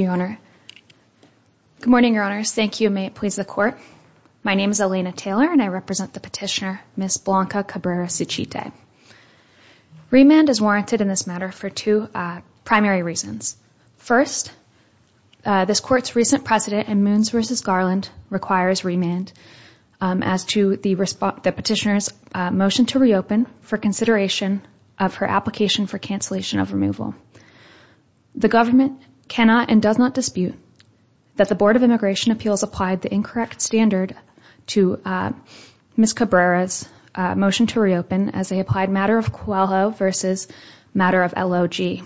Good morning, Your Honors. Thank you. May it please the Court. My name is Elena Taylor and I represent the petitioner, Ms. Blanca Cabrera-Suchite. Remand is warranted in this matter for two primary reasons. First, this Court's recent precedent in Moons v. Garland requires remand as to the petitioner's motion to reopen for consideration of her application for cancellation of removal. The government cannot and does not dispute that the Board of Immigration Appeals applied the incorrect standard to Ms. Cabrera's motion to reopen as a applied matter of COALHO v. matter of LOG.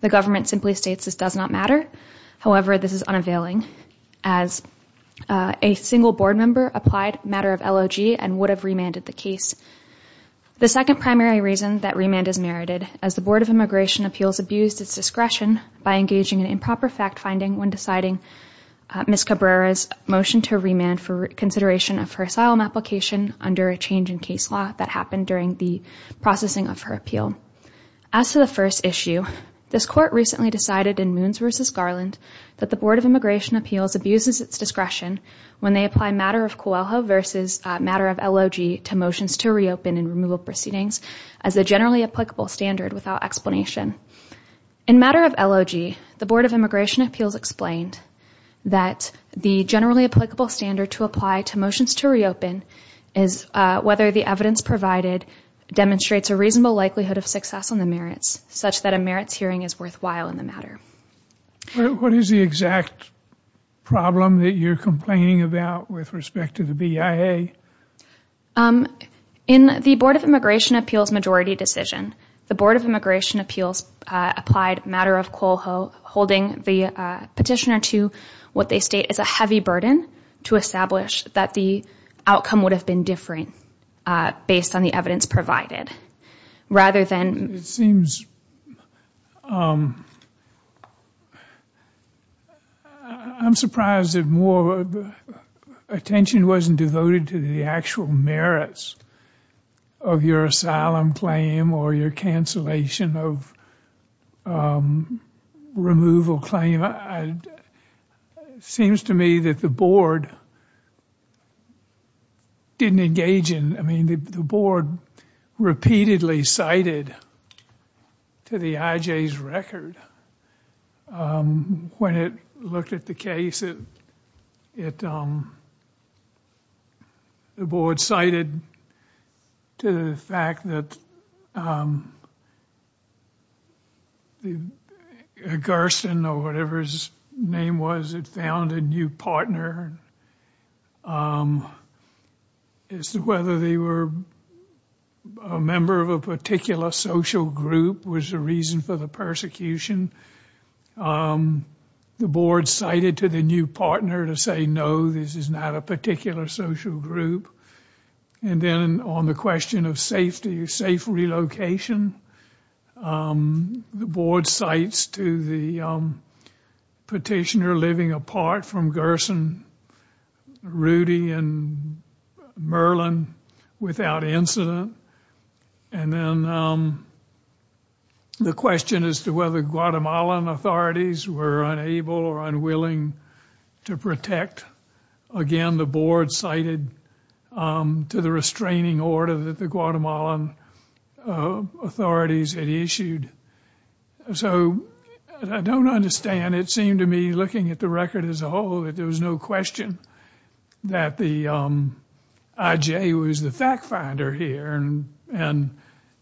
The government simply states this does not matter. However, this is unavailing as a single board member applied matter of LOG and would have remanded the case. The second primary reason that remand is merited as the Board of Immigration Appeals abused its discretion by engaging in improper fact-finding when deciding Ms. Cabrera's motion to remand for consideration of her asylum application under a change in case law that happened during the processing of her appeal. As to the first issue, this Court recently decided in Moons v. Garland that the Board of Immigration Appeals abuses its discretion when they apply matter of COALHO v. matter of LOG to motions to reopen and removal proceedings as a generally applicable standard without explanation. In matter of LOG, the Board of Immigration Appeals explained that the generally applicable standard to apply to motions to reopen is whether the evidence provided demonstrates a reasonable likelihood of success on the merits, such that a merits hearing is worthwhile in the matter. What is the exact problem that you're complaining about with respect to the BIA? In the Board of Immigration Appeals majority decision, the Board of Immigration Appeals applied matter of COALHO holding the petitioner to what they state is a heavy burden to establish that the outcome would have been different based on the evidence provided. Rather than it seems, I'm surprised that more attention wasn't devoted to the actual merits of your asylum claim or your cancellation of removal claim. It seems to me that the Board repeatedly cited to the IJ's record when it looked at the case. The whether they were a member of a particular social group was the reason for the persecution. The board cited to the new partner to say no, this is not a particular social group. And then on the question of safety, safe relocation, the board cites to the petitioner living apart from Gerson, Rudy, and Merlin without incident. And then the question as to whether Guatemalan authorities were unable or unwilling to protect. Again, the board cited to the restraining order that the Guatemalan authorities had issued. So I don't understand, it seemed to me looking at the record as a whole, that there was no question that the IJ was the fact finder here. And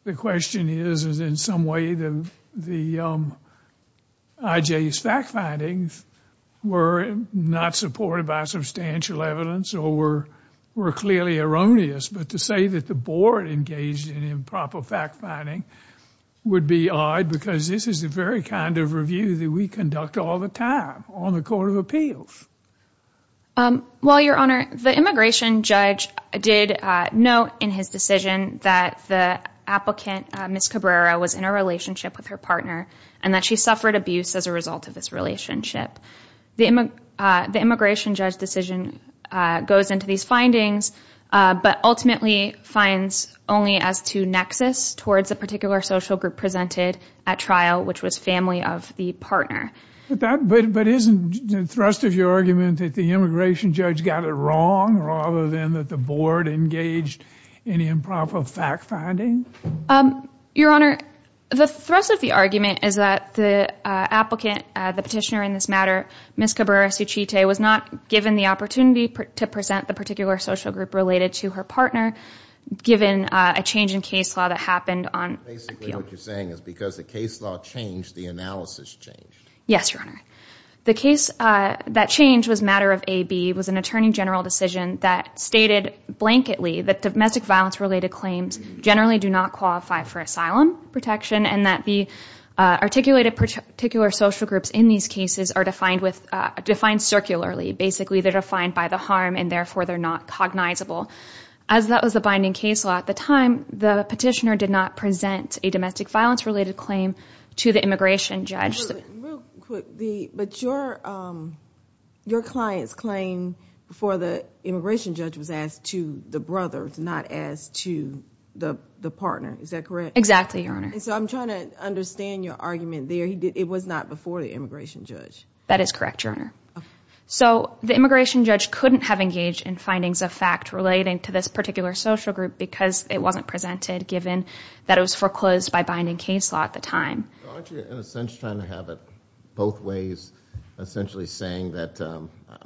the question is, is in some way the IJ's fact findings were not supported by substantial evidence or were clearly erroneous. But to say that the board engaged in improper fact-finding would be odd because this is the very kind of review that we conduct all the time on the Court of Appeals. Well, Your Honor, the immigration judge did note in his decision that the applicant, Ms. Cabrera, was in a relationship with her partner and that she suffered abuse as a result of this relationship. The immigration judge decision goes into these findings but ultimately finds only as to nexus towards a particular social group presented at trial, which was family of the partner. But isn't the thrust of your argument that the immigration judge got it wrong rather than that the board engaged in improper fact-finding? Your Honor, the thrust of the argument is that the applicant, the petitioner in this detail, was not given the opportunity to present the particular social group related to her partner given a change in case law that happened on appeal. Basically what you're saying is because the case law changed, the analysis changed. Yes, Your Honor. The case that changed was matter of AB, was an attorney general decision that stated blanketly that domestic violence related claims generally do not qualify for asylum protection and that the articulated particular social groups in these cases are defined circularly. Basically they're defined by the harm and therefore they're not cognizable. As that was the binding case law at the time, the petitioner did not present a domestic violence related claim to the immigration judge. But your client's claim for the immigration judge was asked to the brother, not asked to the partner. Is that correct? Exactly, Your Honor. So I'm trying to understand your argument there. It was not before the immigration judge. That is correct, Your Honor. So the immigration judge couldn't have engaged in findings of fact relating to this particular social group because it wasn't presented given that it was foreclosed by binding case law at the time. Aren't you in a sense trying to have it both ways, essentially saying that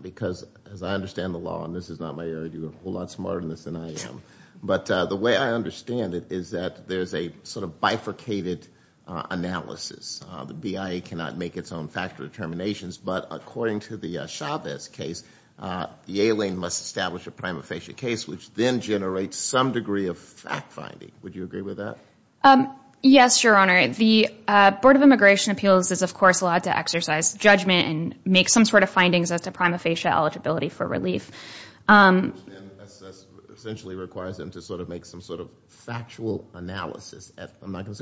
because as I understand the law, and this is not my area, you're a whole lot smarter than this than I am, but the way I understand it is that there's a sort of bifurcated analysis. The BIA cannot make its own factual determinations, but according to the Chavez case, the alien must establish a prima facie case which then generates some degree of fact finding. Would you agree with that? Yes, Your Honor. The Board of Immigration Appeals is of course allowed to exercise judgment and make some sort of findings as to prima facie eligibility for relief. Essentially requires them to sort of make some sort of factual analysis. I'm As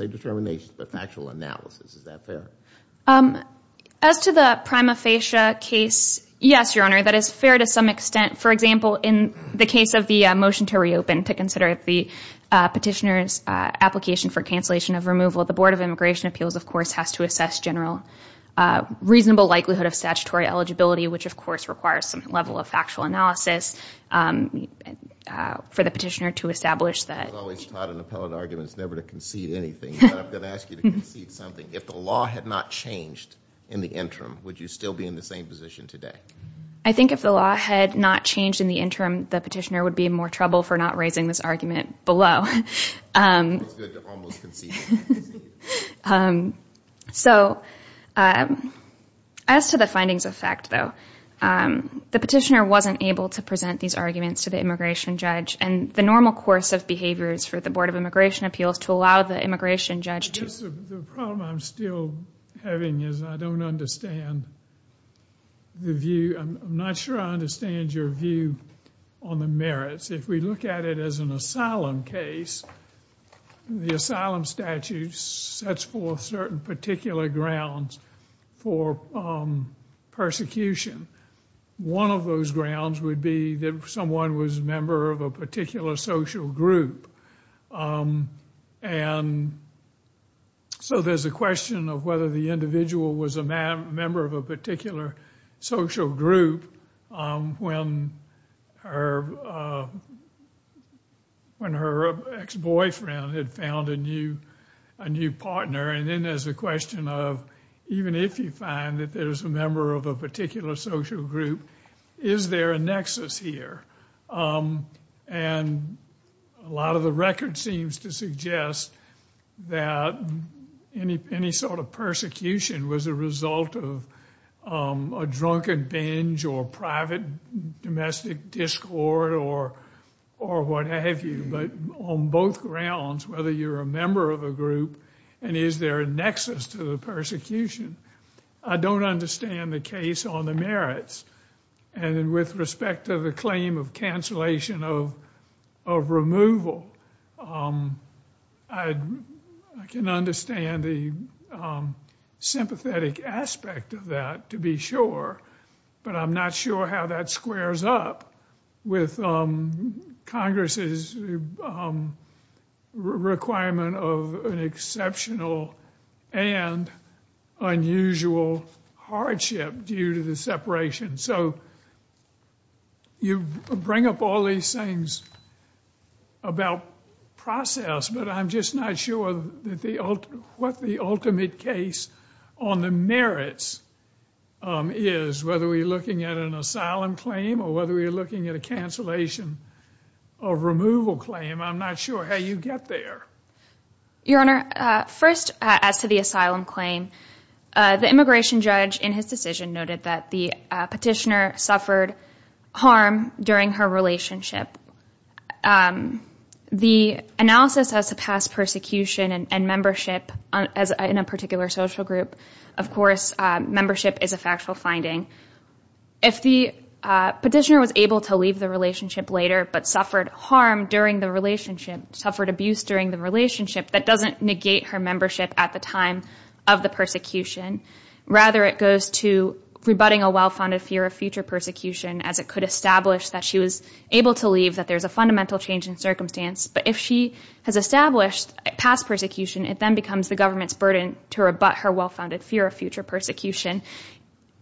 to the prima facie case, yes, Your Honor, that is fair to some extent. For example, in the case of the motion to reopen to consider the petitioner's application for cancellation of removal, the Board of Immigration Appeals of course has to assess general reasonable likelihood of statutory eligibility, which of course requires some level of factual analysis for the petitioner to I think if the law had not changed in the interim, the petitioner would be in more trouble for not raising this argument below. So as to the findings of fact though, the petitioner wasn't able to present these arguments to the The problem I'm still having is I don't understand the view, I'm not sure I understand your view on the merits. If we look at it as an asylum case, the asylum statute sets forth certain particular grounds for persecution. One of those group. And so there's a question of whether the individual was a member of a particular social group when her ex-boyfriend had found a new partner. And then there's a question of even if you find that there's a member of a A lot of the record seems to suggest that any sort of persecution was a result of a drunken binge or private domestic discord or what have you. But on both grounds, whether you're a member of a group and is there a nexus to the persecution, I don't understand the case on the merits. And with respect to the of cancellation of removal, I can understand the sympathetic aspect of that to be sure. But I'm not sure how that squares up with Congress's requirement of an exceptional and unusual hardship due to the separation. So you bring up all these things about process, but I'm just not sure what the ultimate case on the merits is, whether we're looking at an asylum claim or whether we're looking at a cancellation of removal claim. I'm not sure how you get there. Your Honor, first as to the asylum claim, the immigration judge in his decision noted that the petitioner suffered harm during her relationship. The analysis as to past persecution and membership in a particular social group, of course, membership is a factual finding. If the petitioner was able to leave the relationship later but suffered harm during the relationship, suffered abuse during the relationship, that doesn't negate her membership at the time of the Rather, it goes to rebutting a well-founded fear of future persecution as it could establish that she was able to leave, that there's a fundamental change in circumstance. But if she has established past persecution, it then becomes the government's burden to rebut her well-founded fear of future persecution.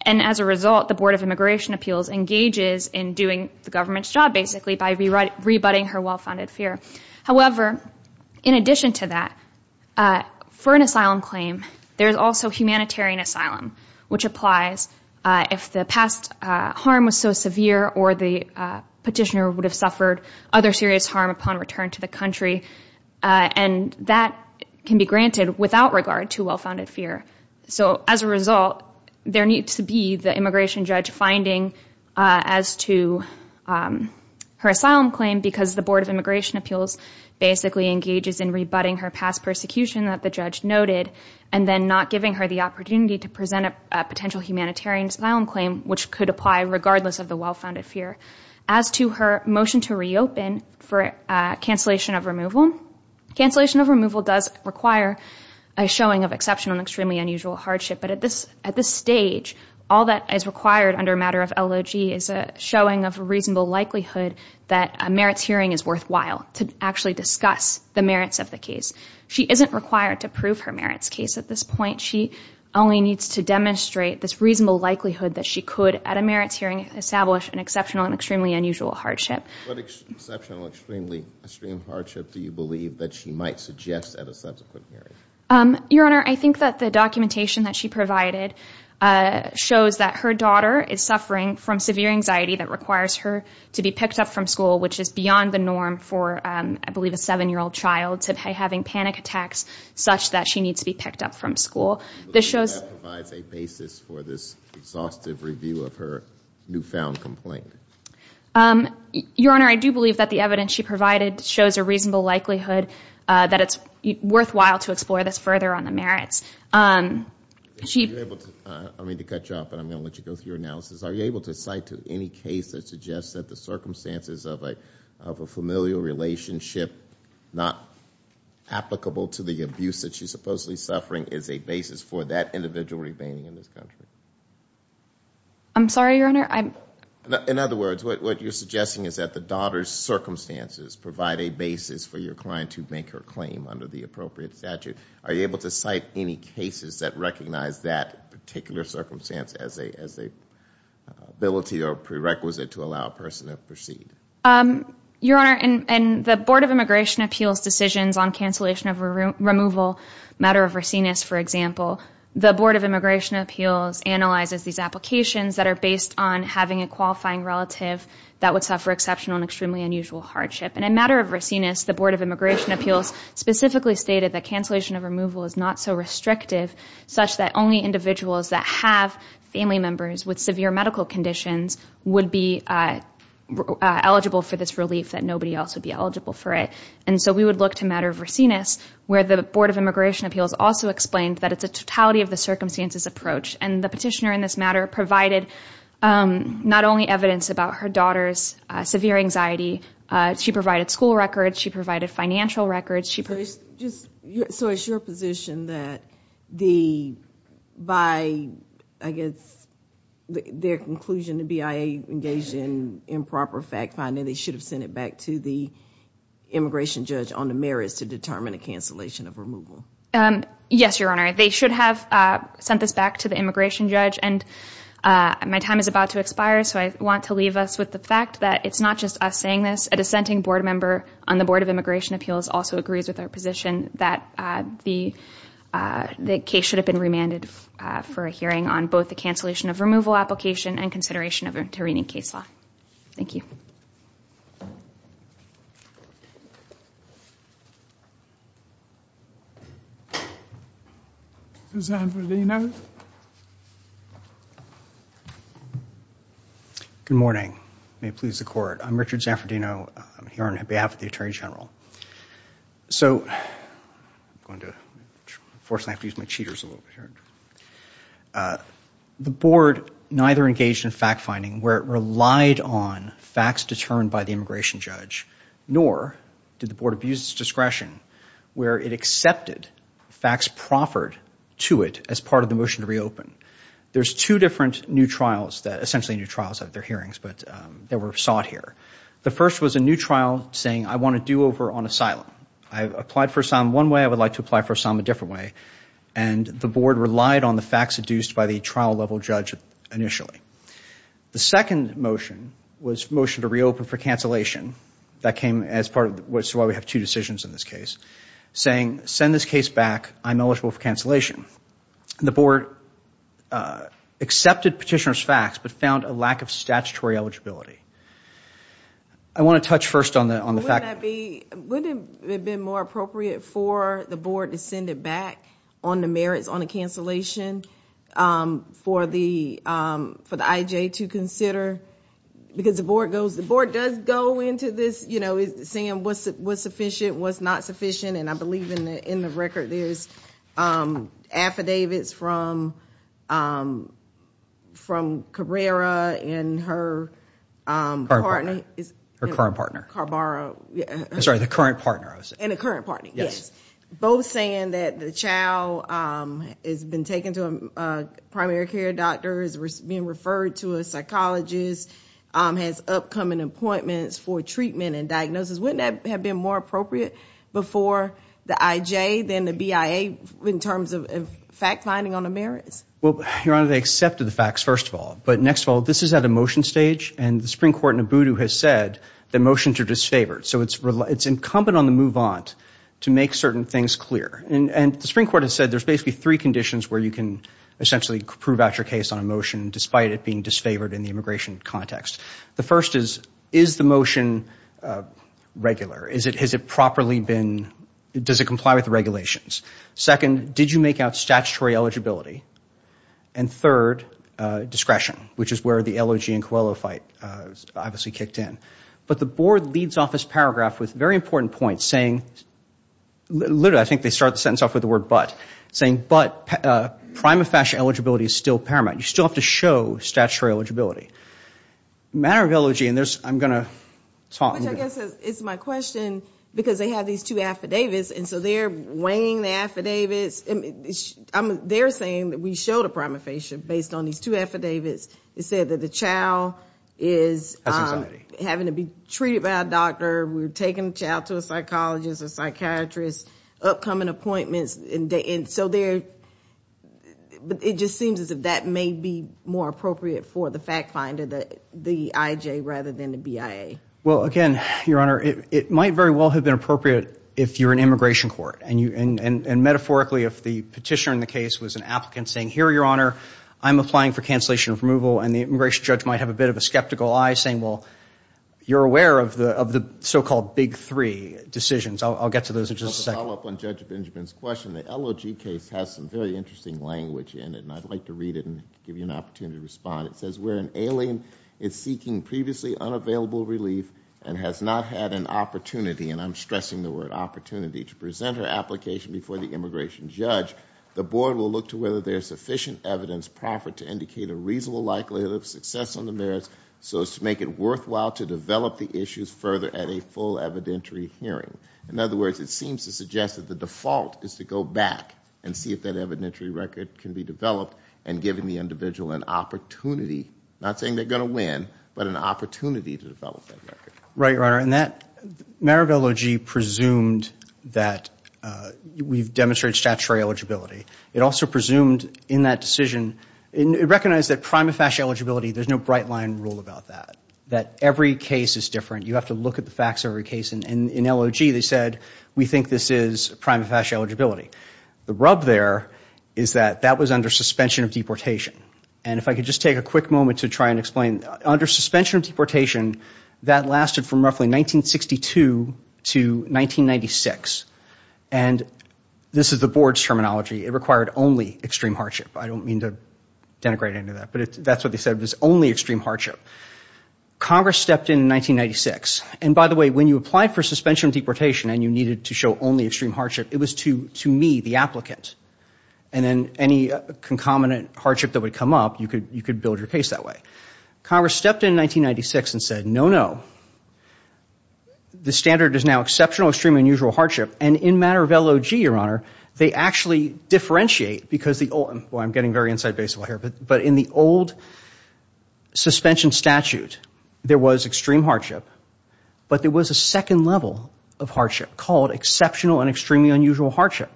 And as a result, the Board of Immigration Appeals engages in doing the government's job basically by rebutting her well-founded fear. However, in addition to that, for an asylum claim, there's also humanitarian asylum, which applies if the past harm was so severe or the petitioner would have suffered other serious harm upon return to the country. And that can be granted without regard to well-founded fear. So as a result, there needs to be the immigration judge finding as to her asylum claim because the Board of Immigration Appeals basically engages in rebutting her past persecution that the judge noted and then not giving her the opportunity to present a potential humanitarian asylum claim, which could apply regardless of the well-founded fear. As to her motion to reopen for cancellation of removal, cancellation of removal does require a showing of exceptional and extremely unusual hardship. But at this stage, all that is required under a matter of LOG is a showing of a reasonable likelihood that a merits hearing is worthwhile to actually discuss the merits of the case. She isn't required to prove her merits case at this point. She only needs to demonstrate this reasonable likelihood that she could, at a merits hearing, establish an exceptional and extremely unusual hardship. What exceptional, extremely, extreme hardship do you believe that she might suggest at a subsequent hearing? Your Honor, I think that the documentation that she provided shows that her daughter is suffering from severe anxiety that requires her to be picked up from school, which is beyond the norm for, I believe, a seven-year-old child to be having panic attacks such that she needs to be picked up from school. This shows a basis for this exhaustive review of her newfound complaint. Your Honor, I do believe that the evidence she provided shows a reasonable likelihood that it's worthwhile to explore this further on the merits. I don't mean to cut you off, but I'm going to let you go through your analysis. Are you able to cite to any case that suggests that the circumstances of a familial relationship not applicable to the abuse that she's supposedly suffering is a basis for that individual remaining in this country? I'm sorry, Your Honor? In other words, what you're suggesting is that the daughter's circumstances provide a basis for your client to make her claim under the appropriate statute. Are you able to cite any cases that recognize that particular circumstance as an ability or prerequisite to allow a person to proceed? Your Honor, in the Board of Immigration Appeals decisions on cancellation of removal matter of Racines, for example, the Board of Immigration Appeals analyzes these applications that are based on having a qualifying relative that would suffer exceptional and extremely unusual hardship. In a matter of Racines, the Board of Immigration Appeals specifically stated that cancellation of removal is not so restrictive such that only individuals that have family members with severe medical conditions would be eligible for this relief, that nobody else would be eligible for it. We would look to matter of Racines where the Board of Immigration Appeals also explained that it's a totality of the circumstances approach. The petitioner in this matter provided not only evidence about her daughter's severe anxiety, she provided school records, she provided financial records. So it's your position that by their conclusion the BIA engaged in improper fact-finding, they should have sent it back to the immigration judge on the merits to determine a cancellation of removal? Yes, Your Honor. They should have sent this back to the immigration judge and my time is about to expire so I want to leave us with the fact that it's not just us saying this. A dissenting board member on the Board of Immigration Appeals also agrees with our position that the case should have been remanded for a hearing on both the cancellation of removal application and consideration of a Tirrini case law. Thank you. Good morning. May it please the Court. I'm Richard Zanfardino here on behalf of the Attorney General. So, unfortunately I have to use my cheaters a little bit here. The board neither engaged in fact-finding where it relied on facts determined by the immigration judge nor did the board abuse its discretion where it accepted facts proffered to it as part of the motion to reopen. There's two different new trials that, essentially new trials of their hearings, but they were sought here. The first was a new over on asylum. I applied for asylum one way. I would like to apply for asylum a different way and the board relied on the facts deduced by the trial level judge initially. The second motion was motion to reopen for cancellation that came as part of what's why we have two decisions in this case saying send this case back. I'm eligible for cancellation. The board accepted petitioner's facts but found a lack of statutory eligibility. I want to touch first on the Would it have been more appropriate for the board to send it back on the merits on a cancellation for the for the IJ to consider because the board goes the board does go into this you know is saying what's what's sufficient what's not sufficient and I believe in the in the record there's affidavits from from and her partner is her current partner carbara sorry the current partner and a current party yes both saying that the child has been taken to a primary care doctor is being referred to a psychologist has upcoming appointments for treatment and diagnosis wouldn't have been more appropriate before the IJ then the BIA in terms of fact-finding on the merits well your honor they accepted the facts first of all but next of all this is at a motion stage and the Supreme Court in a voodoo has said the motions are disfavored so it's really it's incumbent on the move on to make certain things clear and and the Supreme Court has said there's basically three conditions where you can essentially prove out your case on a motion despite it being disfavored in the immigration context the first is is the motion regular is it has it properly been does it comply with the regulations second did you make out statutory eligibility and third discretion which is where the elegy and coelho fight obviously kicked in but the board leads off this paragraph with very important points saying literally I think they start the sentence off with the word but saying but prima facie eligibility is still paramount you still have to show statutory eligibility matter of elegy and there's I'm gonna talk it's my question because they have these two affidavits and so they're weighing the affidavits and they're saying that we showed a prima facie based on these two affidavits it said that the child is having to be treated by a doctor we're taking a child to a psychologist a psychiatrist upcoming appointments in day and so there but it just seems as if that may be more appropriate for the fact finder that the IJ rather than the BIA well again your honor it might very well have been appropriate if you're an immigration court and you and and metaphorically if the petitioner in the case was an applicant saying here your honor I'm applying for cancellation of removal and the immigration judge might have a bit of a skeptical I saying well you're aware of the of the so-called big three decisions I'll get to those are just a follow-up on judge Benjamin's question the elegy case has some very interesting language in it and I'd like to read it and give you an opportunity to respond it says we're an alien is seeking previously unavailable relief and has not had an opportunity and I'm stressing the word opportunity to present her application before the immigration judge the board will look to whether there's sufficient evidence profit to indicate a reasonable likelihood of success on the merits so as to make it worthwhile to develop the issues further at a full evidentiary hearing in other words it seems to suggest that the default is to go back and see if that evidentiary record can be developed and giving the individual an opportunity not saying they're gonna win but an opportunity to develop that record right right and that Maribel OG presumed that we've demonstrated statutory eligibility it also presumed in that decision it recognized that prima facie eligibility there's no bright line rule about that that every case is different you have to look at the facts of every case and in LOG they said we think this is prima facie eligibility the rub there is that that was under suspension of deportation and if I could just take a quick moment to try and explain under suspension of deportation that lasted from roughly 1962 to 1996 and this is the board's terminology it required only extreme hardship I don't mean to denigrate into that but that's what they said was only extreme hardship Congress stepped in 1996 and by the way when you apply for suspension of deportation and you needed to show only extreme hardship it was to me the applicant and then any concomitant hardship that would come up you could you could build your case that way Congress stepped in 1996 and said no no the standard is now exceptional extreme unusual hardship and in matter of LOG your honor they actually differentiate because the old I'm getting very inside baseball here but but in the old suspension statute there was extreme hardship but there was a second level of hardship called exceptional and extremely unusual hardship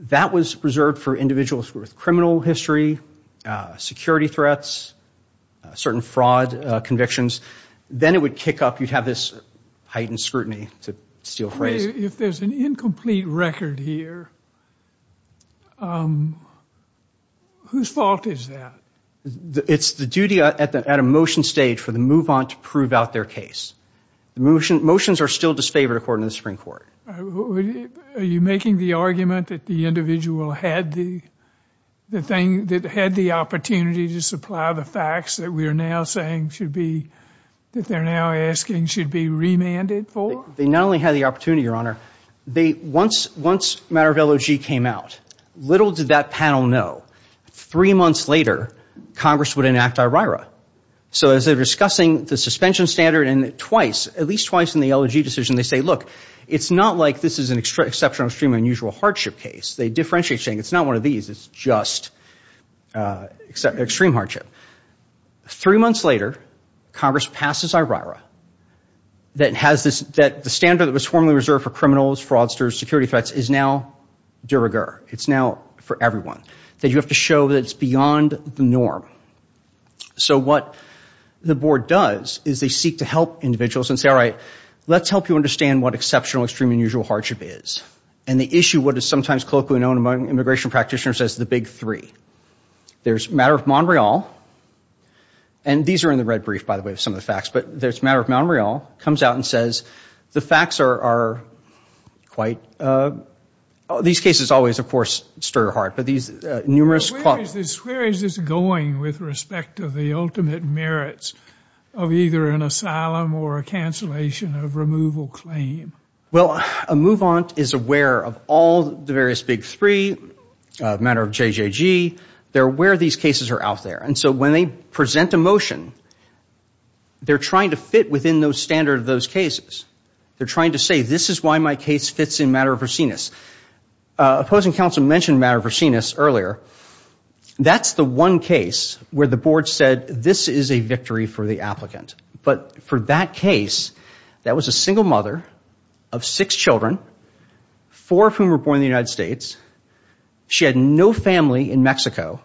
that was reserved for individuals with criminal history security threats certain fraud convictions then it would kick up you'd have this heightened scrutiny to steal phrase if there's an incomplete record here whose fault is that it's the duty at the at a motion stage for the move on to prove out their case the motion motions are still disfavored according to the Supreme Court are you making the argument that the individual had the the thing that had the opportunity to supply the facts that we are now saying should be that they're now asking should be remanded for they not only had the opportunity your honor they once once matter of LOG came out little did that panel know three months later Congress would enact IRA so as they're discussing the suspension standard and twice at least twice in the LOG decision they say look it's not like this is an extra exceptional stream unusual hardship case they differentiate saying it's not one of these it's just except extreme hardship three months later Congress passes IRA that has this that the standard that was formerly reserved for criminals fraudsters security threats is now de rigueur it's now for everyone that you have to show that it's beyond the norm so what the board does is they seek to help individuals and say all right let's help you understand what exceptional extreme unusual hardship is and the issue what is sometimes colloquially known among immigration practitioners as the big three there's matter of Montreal and these are in the red brief by the way of some of the facts but there's matter of Montreal comes out and says the facts are quite these cases always of course stir your heart but these numerous causes where is going with respect to the ultimate merits of either an asylum or a cancellation of removal claim well a move on is aware of all the various big three matter of JJG they're where these cases are out there and so when they present a motion they're trying to fit within those standard of those cases they're trying to say this is why my case fits in matter of her seniors opposing counsel mentioned matter of her seniors earlier that's the one case where the board said this is a victory for the applicant but for that case that was a single mother of six children four of whom were born in the United States she had no family in Mexico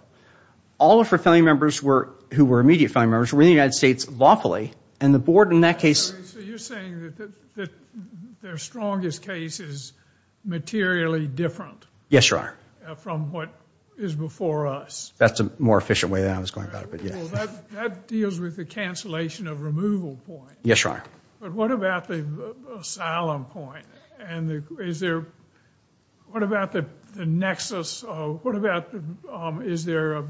all of her family members were who were immediate family members were in the United States lawfully and the board in that case you're saying that their strongest case is materially different yes sir from what is before us that's a more efficient way that I was going about it but yeah that deals with the cancellation of removal point yes sir but what about the asylum point and the is there what about the Nexus Oh what about is there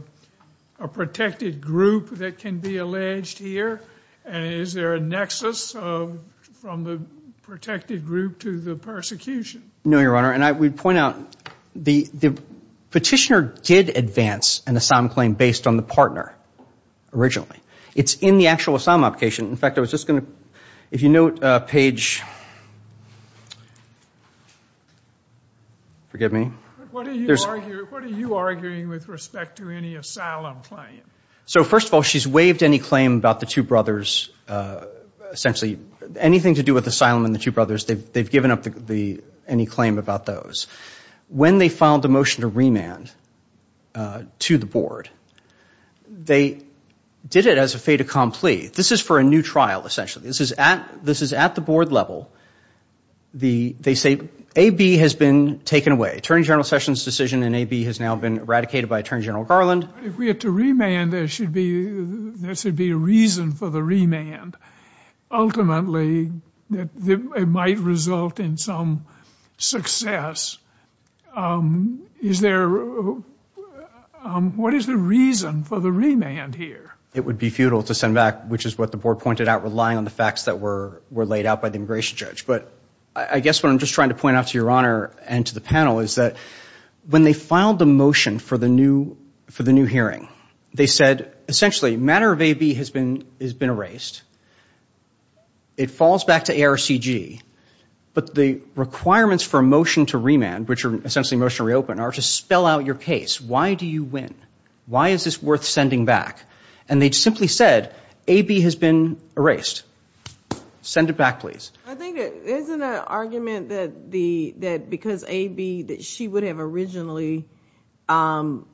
a protected group that can be alleged here and is there a Nexus from the protected group to the persecution no your honor and I would point out the the petitioner did advance an asylum claim based on the partner originally it's in the actual asylum application in fact I was just gonna if you note page forgive me so first of all she's waived any claim about the two brothers essentially anything to do with asylum in the two brothers they've they've given up the any claim about those when they filed a motion to remand to the board they did it as a fait accompli this is for a new trial essentially this is at this is at the board level the they say a B has been taken away Attorney General Sessions decision in a B has now been eradicated by Attorney General Garland if we have to remand there should be there should be a reason for the remand ultimately it might result in some success is there what is the reason for the remand here it would be futile to send back which is what the board pointed out relying on the facts that were were laid out by the immigration judge but I guess what I'm just trying to point out to your honor and to the panel is that when they filed the motion for the new for the new they said essentially matter of a B has been has been erased it falls back to ARCG but the requirements for a motion to remand which are essentially motion reopen are to spell out your case why do you win why is this worth sending back and they'd simply said a B has been erased send it back please argument that the that because a B that she would have originally fouled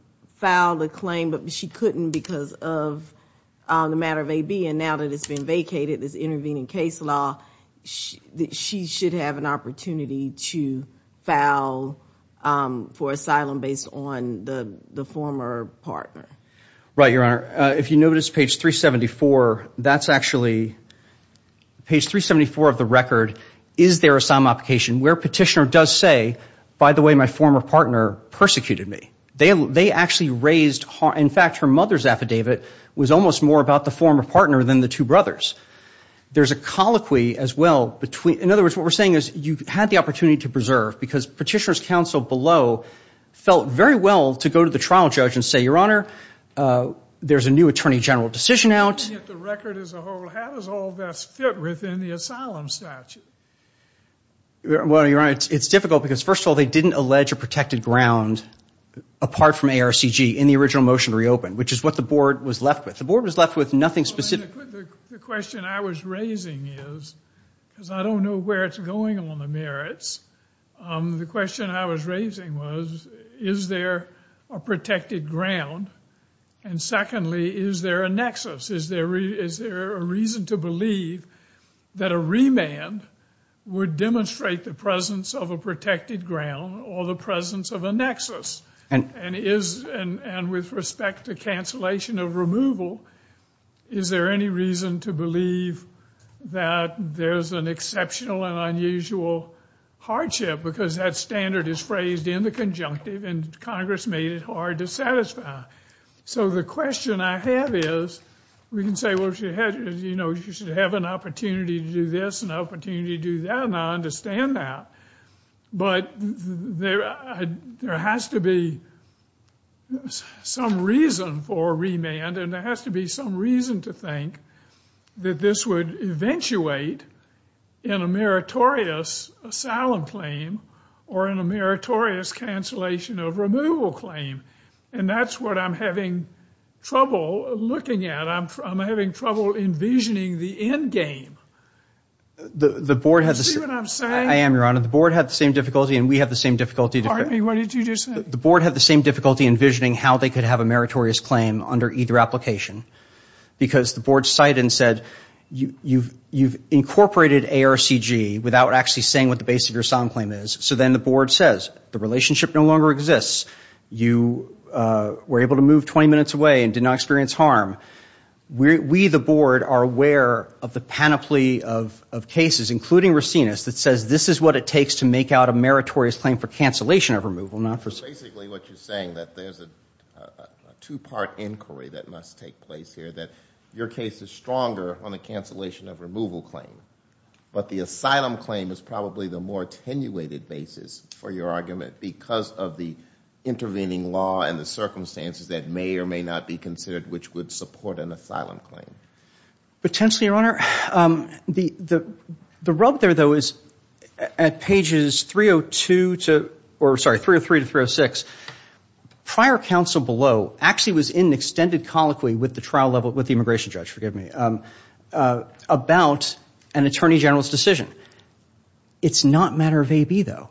a claim but she couldn't because of the matter of a B and now that it's been vacated this intervening case law she should have an opportunity to foul for asylum based on the the former partner right your honor if you notice page 374 that's actually page 374 of the record is there a some application where petitioner does say by the way my former partner persecuted me they they actually raised her in fact her mother's affidavit was almost more about the former partner than the two brothers there's a colloquy as well between in other words what we're saying is you had the opportunity to preserve because petitioners counsel below felt very well to go to the trial judge and say your there's a new attorney general decision out it's difficult because first of all they didn't allege a protected ground apart from ARCG in the original motion reopened which is what the board was left with the board was left with nothing specific the question I was raising is because I don't know where it's going on the merits the question I was raising was is there a protected ground and secondly is there a nexus is there is there a reason to believe that a remand would demonstrate the presence of a protected ground or the presence of a nexus and is and with respect to cancellation of removal is there any reason to believe that there's an exceptional and unusual hardship because that standard is phrased in the conjunctive and Congress made it hard to justify so the question I have is we can say what you had you know you should have an opportunity to do this an opportunity to do that and I understand that but there has to be some reason for remand and there has to be some reason to think that this would eventuate in a meritorious asylum claim or in a that's what I'm having trouble looking at I'm having trouble envisioning the endgame the board has I am your honor the board had the same difficulty and we have the same difficulty the board had the same difficulty envisioning how they could have a meritorious claim under either application because the board cite and said you you've you've incorporated ARCG without actually saying what the base of your song claim is so then the board says the relationship no longer exists you were able to move 20 minutes away and did not experience harm we the board are aware of the panoply of cases including Racines that says this is what it takes to make out a meritorious claim for cancellation of removal not for basically what you're saying that there's a two-part inquiry that must take place here that your case is stronger on the cancellation of removal claim but the asylum claim is probably the more attenuated basis for your argument because of the intervening law and the circumstances that may or may not be considered which would support an asylum claim potentially your honor the the rub there though is at pages 302 to or sorry 303 to 306 prior counsel below actually was in extended colloquy with the trial level with the immigration judge forgive me about an attorney general's decision it's not matter of a be though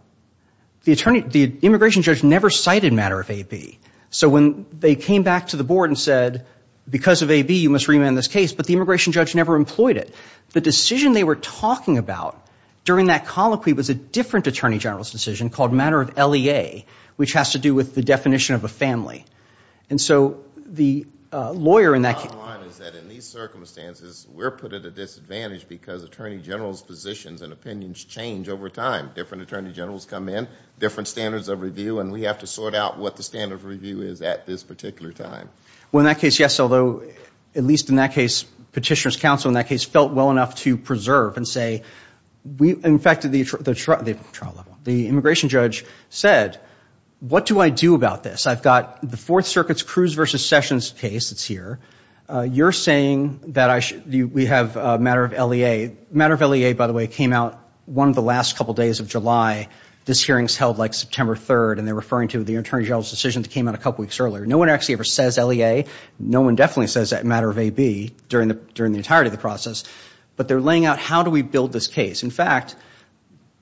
the attorney the immigration judge never cited matter of a be so when they came back to the board and said because of a be you must remand this case but the immigration judge never employed it the decision they were talking about during that colloquy was a different attorney general's decision called matter of lea which has to do with the definition of a family and so the lawyer in that circumstances we're put at a disadvantage because attorney general's positions and opinions change over time different attorney generals come in different standards of review and we have to sort out what the standard of review is at this particular time well in that case yes although at least in that case petitioners counsel in that case felt well enough to preserve and say we infected the truck the trial level the immigration judge said what do I do about this I've got the Fourth Circuit's Cruz versus Sessions case that's here you're saying that I should we have matter of lea matter of lea by the way came out one of the last couple days of July this hearings held like September 3rd and they're referring to the attorney general's decision that came out a couple weeks earlier no one actually ever says lea no one definitely says that matter of a be during the during the entirety of the process but they're laying out how do we build this case in fact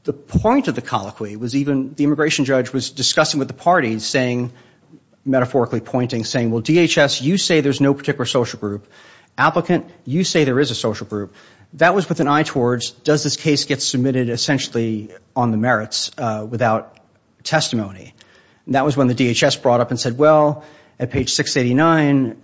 the point of the colloquy was even the immigration judge was discussing with the parties saying metaphorically pointing saying well DHS you say there's no particular social group applicant you say there is a social group that was with an eye towards does this case get submitted essentially on the merits without testimony that was when the DHS brought up and said well at page 689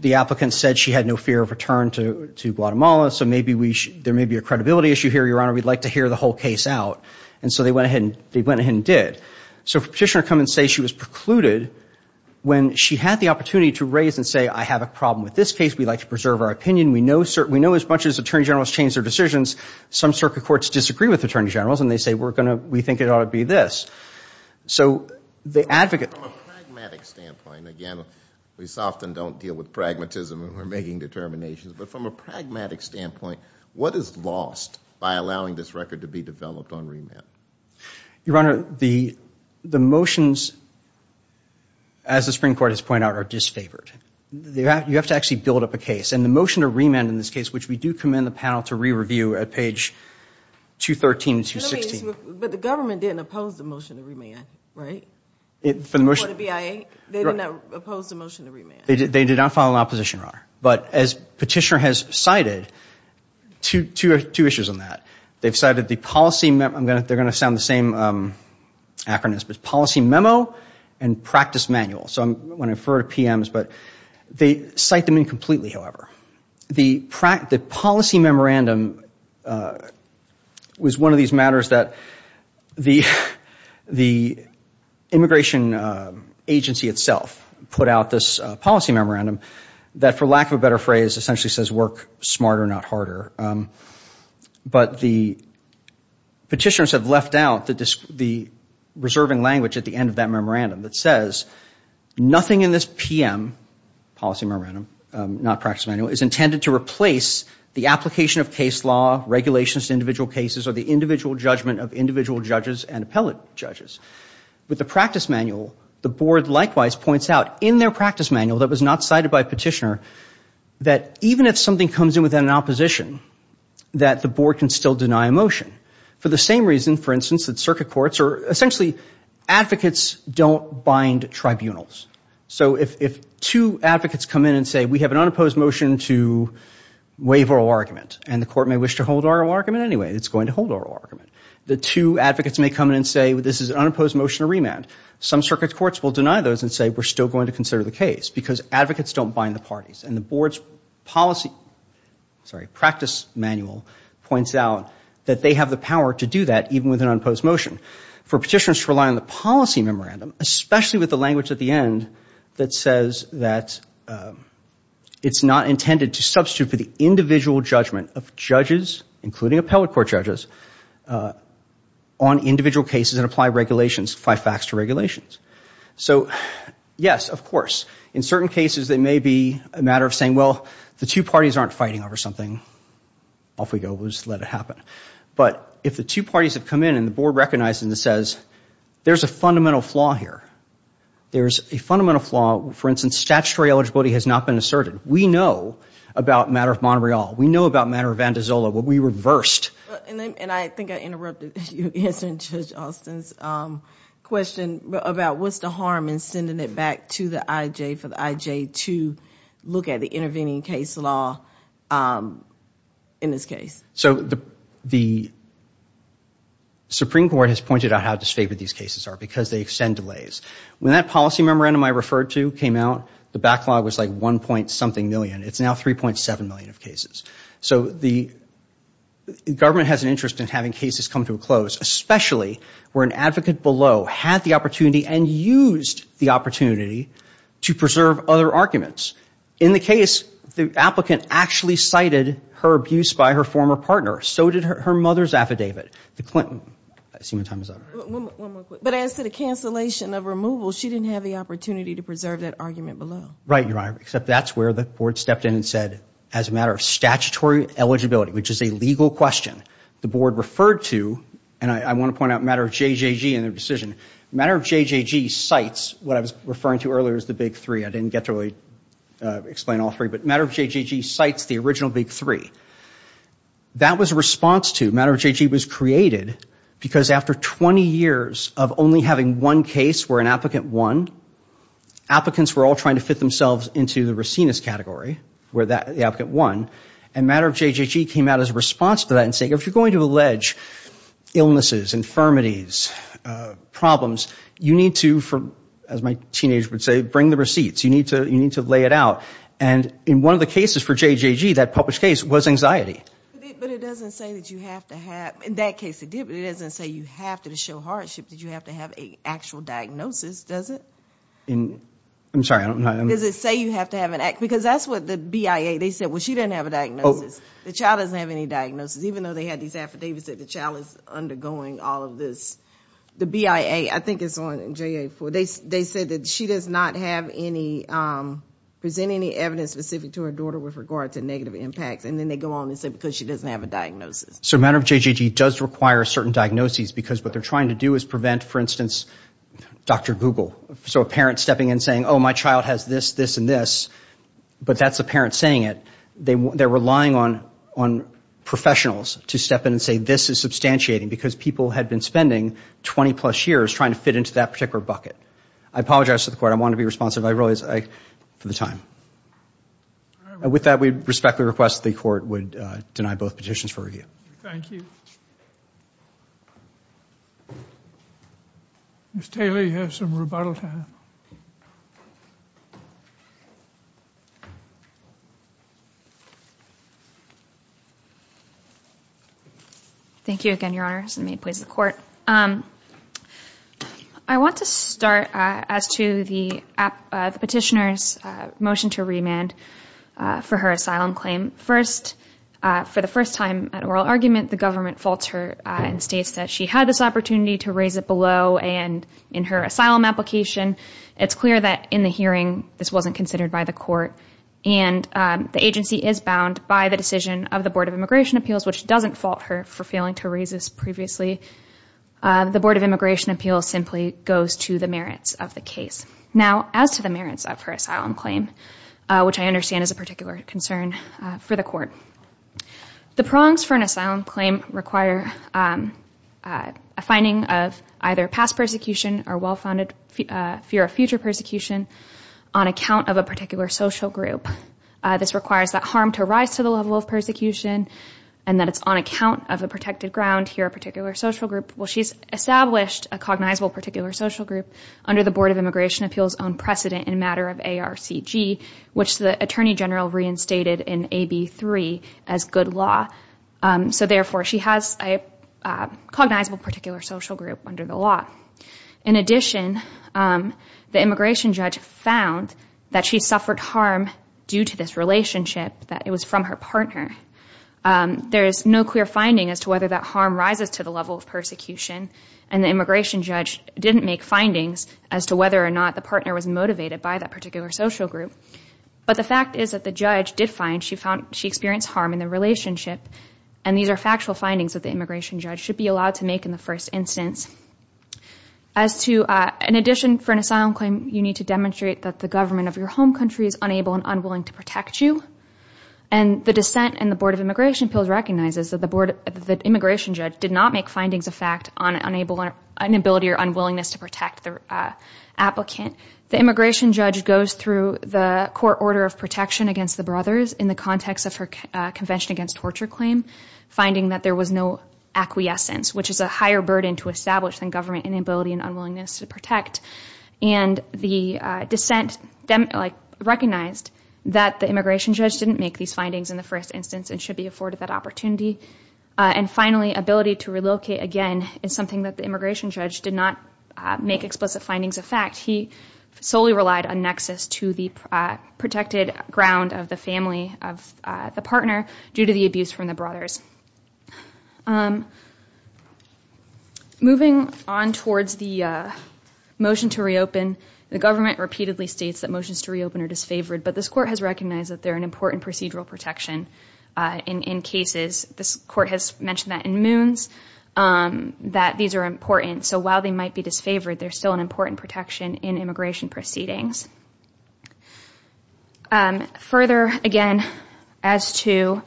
the applicant said she had no fear of return to to Guatemala so maybe we there may be a credibility issue here your honor we'd like to hear the whole case out and so they went ahead and they did so petitioner come and say she was precluded when she had the opportunity to raise and say I have a problem with this case we'd like to preserve our opinion we know sir we know as much as attorney generals change their decisions some circuit courts disagree with attorney generals and they say we're gonna we think it ought to be this so the advocate again we soften don't deal with pragmatism and we're making determinations but from a pragmatic standpoint what is lost by allowing this record to be developed on remand your honor the the motions as the Supreme Court has point out are disfavored they have you have to actually build up a case and the motion to remand in this case which we do commend the panel to re-review at page 213 216 but the government didn't oppose the motion to remand right it for the motion to be I they did not oppose the motion to remand they did they did not file an opposition honor but as petitioner has cited to two or two issues on that they've cited the policy met I'm gonna they're gonna sound the same acronyms but policy memo and practice manual so I'm when I refer to PMS but they cite them in completely however the practice policy memorandum was one of these matters that the the immigration agency itself put out this policy memorandum that for lack of a better phrase essentially says work smarter not harder but the petitioners have left out the disk the reserving language at the end of that memorandum that says nothing in this p.m. policy memorandum not practice manual is intended to replace the application of case law regulations individual cases or the individual judgment of individual judges and appellate judges with the practice manual the board likewise points out in their practice manual that was not cited by petitioner that even if something comes in with an opposition that the board can still deny a motion for the same reason for instance that circuit courts are essentially advocates don't bind tribunals so if two advocates come in and say we have an unopposed motion to waive oral argument and the court may wish to hold our argument anyway it's going to hold our argument the two advocates may come in and say this is an unopposed motion to remand some circuit courts will deny those and say we're still going to consider the case because advocates don't bind the parties and the board's policy sorry practice manual points out that they have the power to do that even with an unopposed motion for petitioners to rely on the policy memorandum especially with the language at the end that says that it's not intended to substitute for the individual judgment of judges including appellate court judges on individual cases and apply regulations five facts to regulations so yes of course in certain cases they may be a matter of saying well the two parties aren't fighting over something off we go was let it happen but if the two parties have come in and the board recognizes and says there's a fundamental flaw here there's a fundamental flaw for instance statutory eligibility has not been asserted we know about matter of Monterey all we know about matter of Vandizola what we reversed and I think I interrupted you answer judge Austin's question about what's the harm in sending it back to the IJ for the IJ to look at the intervening case law in this case so the the Supreme Court has pointed out how disfavored these cases are because they extend delays when that policy memorandum I referred to came out the backlog was like one point something million it's now 3.7 million of cases so the government has an interest in having cases come to a close especially where an advocate below had the opportunity and used the opportunity to preserve other arguments in the case the applicant actually cited her abuse by her former partner so did her mother's affidavit the Clinton but as to the cancellation of removal she didn't have the opportunity to preserve that argument below right you're right except that's where the board stepped in and said as a matter of statutory eligibility which is a legal question the board referred to and I want to point out matter of JJG and their decision matter of JJG cites what I was referring to earlier is the big three I didn't get to really explain all three but matter of JJG cites the original big three that was a response to matter of JJG was created because after 20 years of only having one case where an applicant one applicants were all trying to fit themselves into the Racine is category where that the applicant one and matter of JJG came out as a response to that and saying if you're going to allege illnesses infirmities problems you need to from as my teenage would say bring the receipts you need to you need to lay it out and in one of the cases for JJG that published case was anxiety in that case it didn't say you have to show hardship did you have to have a actual diagnosis does it in I'm sorry I don't know does it say you have to have an act because that's what the BIA they said well she didn't have a diagnosis the child doesn't have any diagnosis even though they had these affidavits that the child is undergoing all of this the BIA I think it's on j8 for they said that she does not have any presenting the evidence specific to her daughter with regard to negative impacts and then they go on and say because she doesn't have a diagnosis so matter of JJG does require certain diagnoses because what they're trying to do is prevent for instance dr. Google so a parent stepping in saying oh my child has this this and this but that's a parent saying it they they're relying on on professionals to step in and say this is substantiating because people had been spending 20 plus years trying to fit into that particular bucket I apologize to the court I want to be responsive I realize I for the time with that we respectfully request the court would deny both petitions for you thank you miss Taylor you have some rebuttal time thank you again your honor has made plays the court um I want to start as to the petitioners motion to remand for her asylum claim first for the first time at oral argument the government faults her and states that she had this opportunity to raise it below and in her asylum application it's clear that in the hearing this wasn't considered by the court and the agency is bound by the decision of the Board of Immigration Appeals which doesn't fault her for failing to raise this previously the Board of Immigration Appeals simply goes to the merits of the case now as to the merits of her asylum claim which I understand is a particular concern for the court the prongs for an asylum claim require a finding of either past persecution or well-founded fear of future persecution on account of a particular social group this requires that harm to rise to the level of persecution and that it's on account of a protected ground here a particular social group well she's established a cognizable particular social group under the Board of Immigration Appeals own precedent in matter of ARCG which the Attorney General reinstated in AB 3 as good law so therefore she has a cognizable particular social group under the law in addition the immigration judge found that she suffered harm due to this relationship that it was from her partner there is no clear finding as to whether that harm rises to the level of persecution and the immigration judge didn't make findings as to whether or not the partner was motivated by that particular social group but the fact is that the judge did find she found she experienced harm in the relationship and these are factual findings of the immigration judge should be allowed to make in the first instance as to an addition for an asylum claim you need to demonstrate that the government of your home country is unable and unwilling to protect you and the dissent and the Immigration Appeals recognizes that the board of the immigration judge did not make findings of fact on unable or inability or unwillingness to protect their applicant the immigration judge goes through the court order of protection against the brothers in the context of her convention against torture claim finding that there was no acquiescence which is a higher burden to establish than government inability and unwillingness to protect and the dissent them like recognized that the immigration judge didn't make these in the first instance and should be afforded that opportunity and finally ability to relocate again is something that the immigration judge did not make explicit findings of fact he solely relied on nexus to the protected ground of the family of the partner due to the abuse from the brothers moving on towards the motion to reopen the government repeatedly states that motions to reopen or disfavored but this court has recognized that they're an important procedural protection in cases this court has mentioned that in moons that these are important so while they might be disfavored there's still an important protection in immigration proceedings further again as to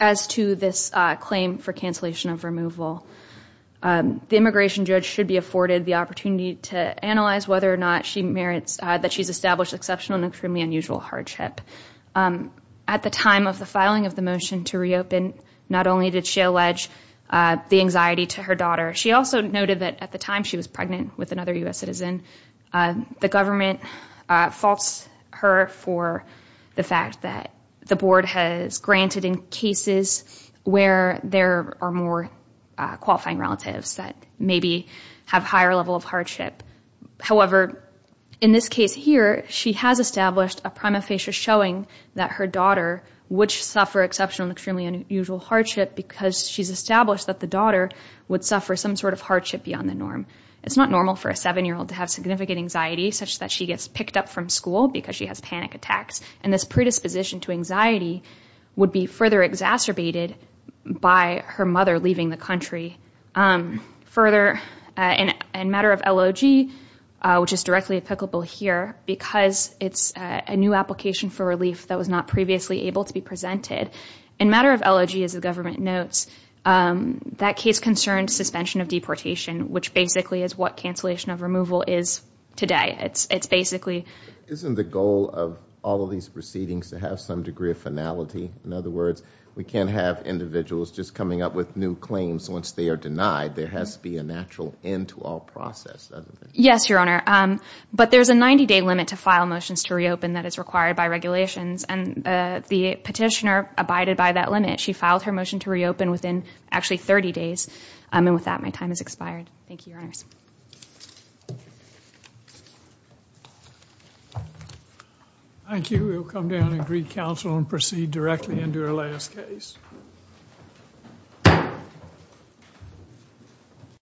as to this claim for cancellation of removal the immigration judge should be afforded the opportunity to analyze whether or not she merits that she's established exceptional extremely unusual hardship at the time of the filing of the motion to reopen not only did she allege the anxiety to her daughter she also noted that at the time she was pregnant with another US citizen the government faults her for the fact that the board has granted in cases where there are more qualifying relatives that maybe have higher level of hardship however in this case here she has established a prima facie showing that her daughter which suffer exceptional extremely unusual hardship because she's established that the daughter would suffer some sort of hardship beyond the norm it's not normal for a seven-year-old to have significant anxiety such that she gets picked up from school because she has panic attacks and this predisposition to anxiety would be further exacerbated by her mother leaving the country further in a matter of LOG which is directly applicable here because it's a new application for relief that was not previously able to be presented in matter of LOG as the government notes that case concerned suspension of deportation which basically is what cancellation of removal is today it's it's basically isn't the goal of all of these proceedings to have some degree of finality in other words we can't have individuals just coming up with new claims once they are denied there has to be a natural end to all process yes your honor but there's a 90-day limit to file motions to reopen that is required by regulations and the petitioner abided by that limit she filed her motion to reopen within actually 30 days I mean with that my time has expired thank you thank you we'll come down and greet counsel and proceed directly into her last case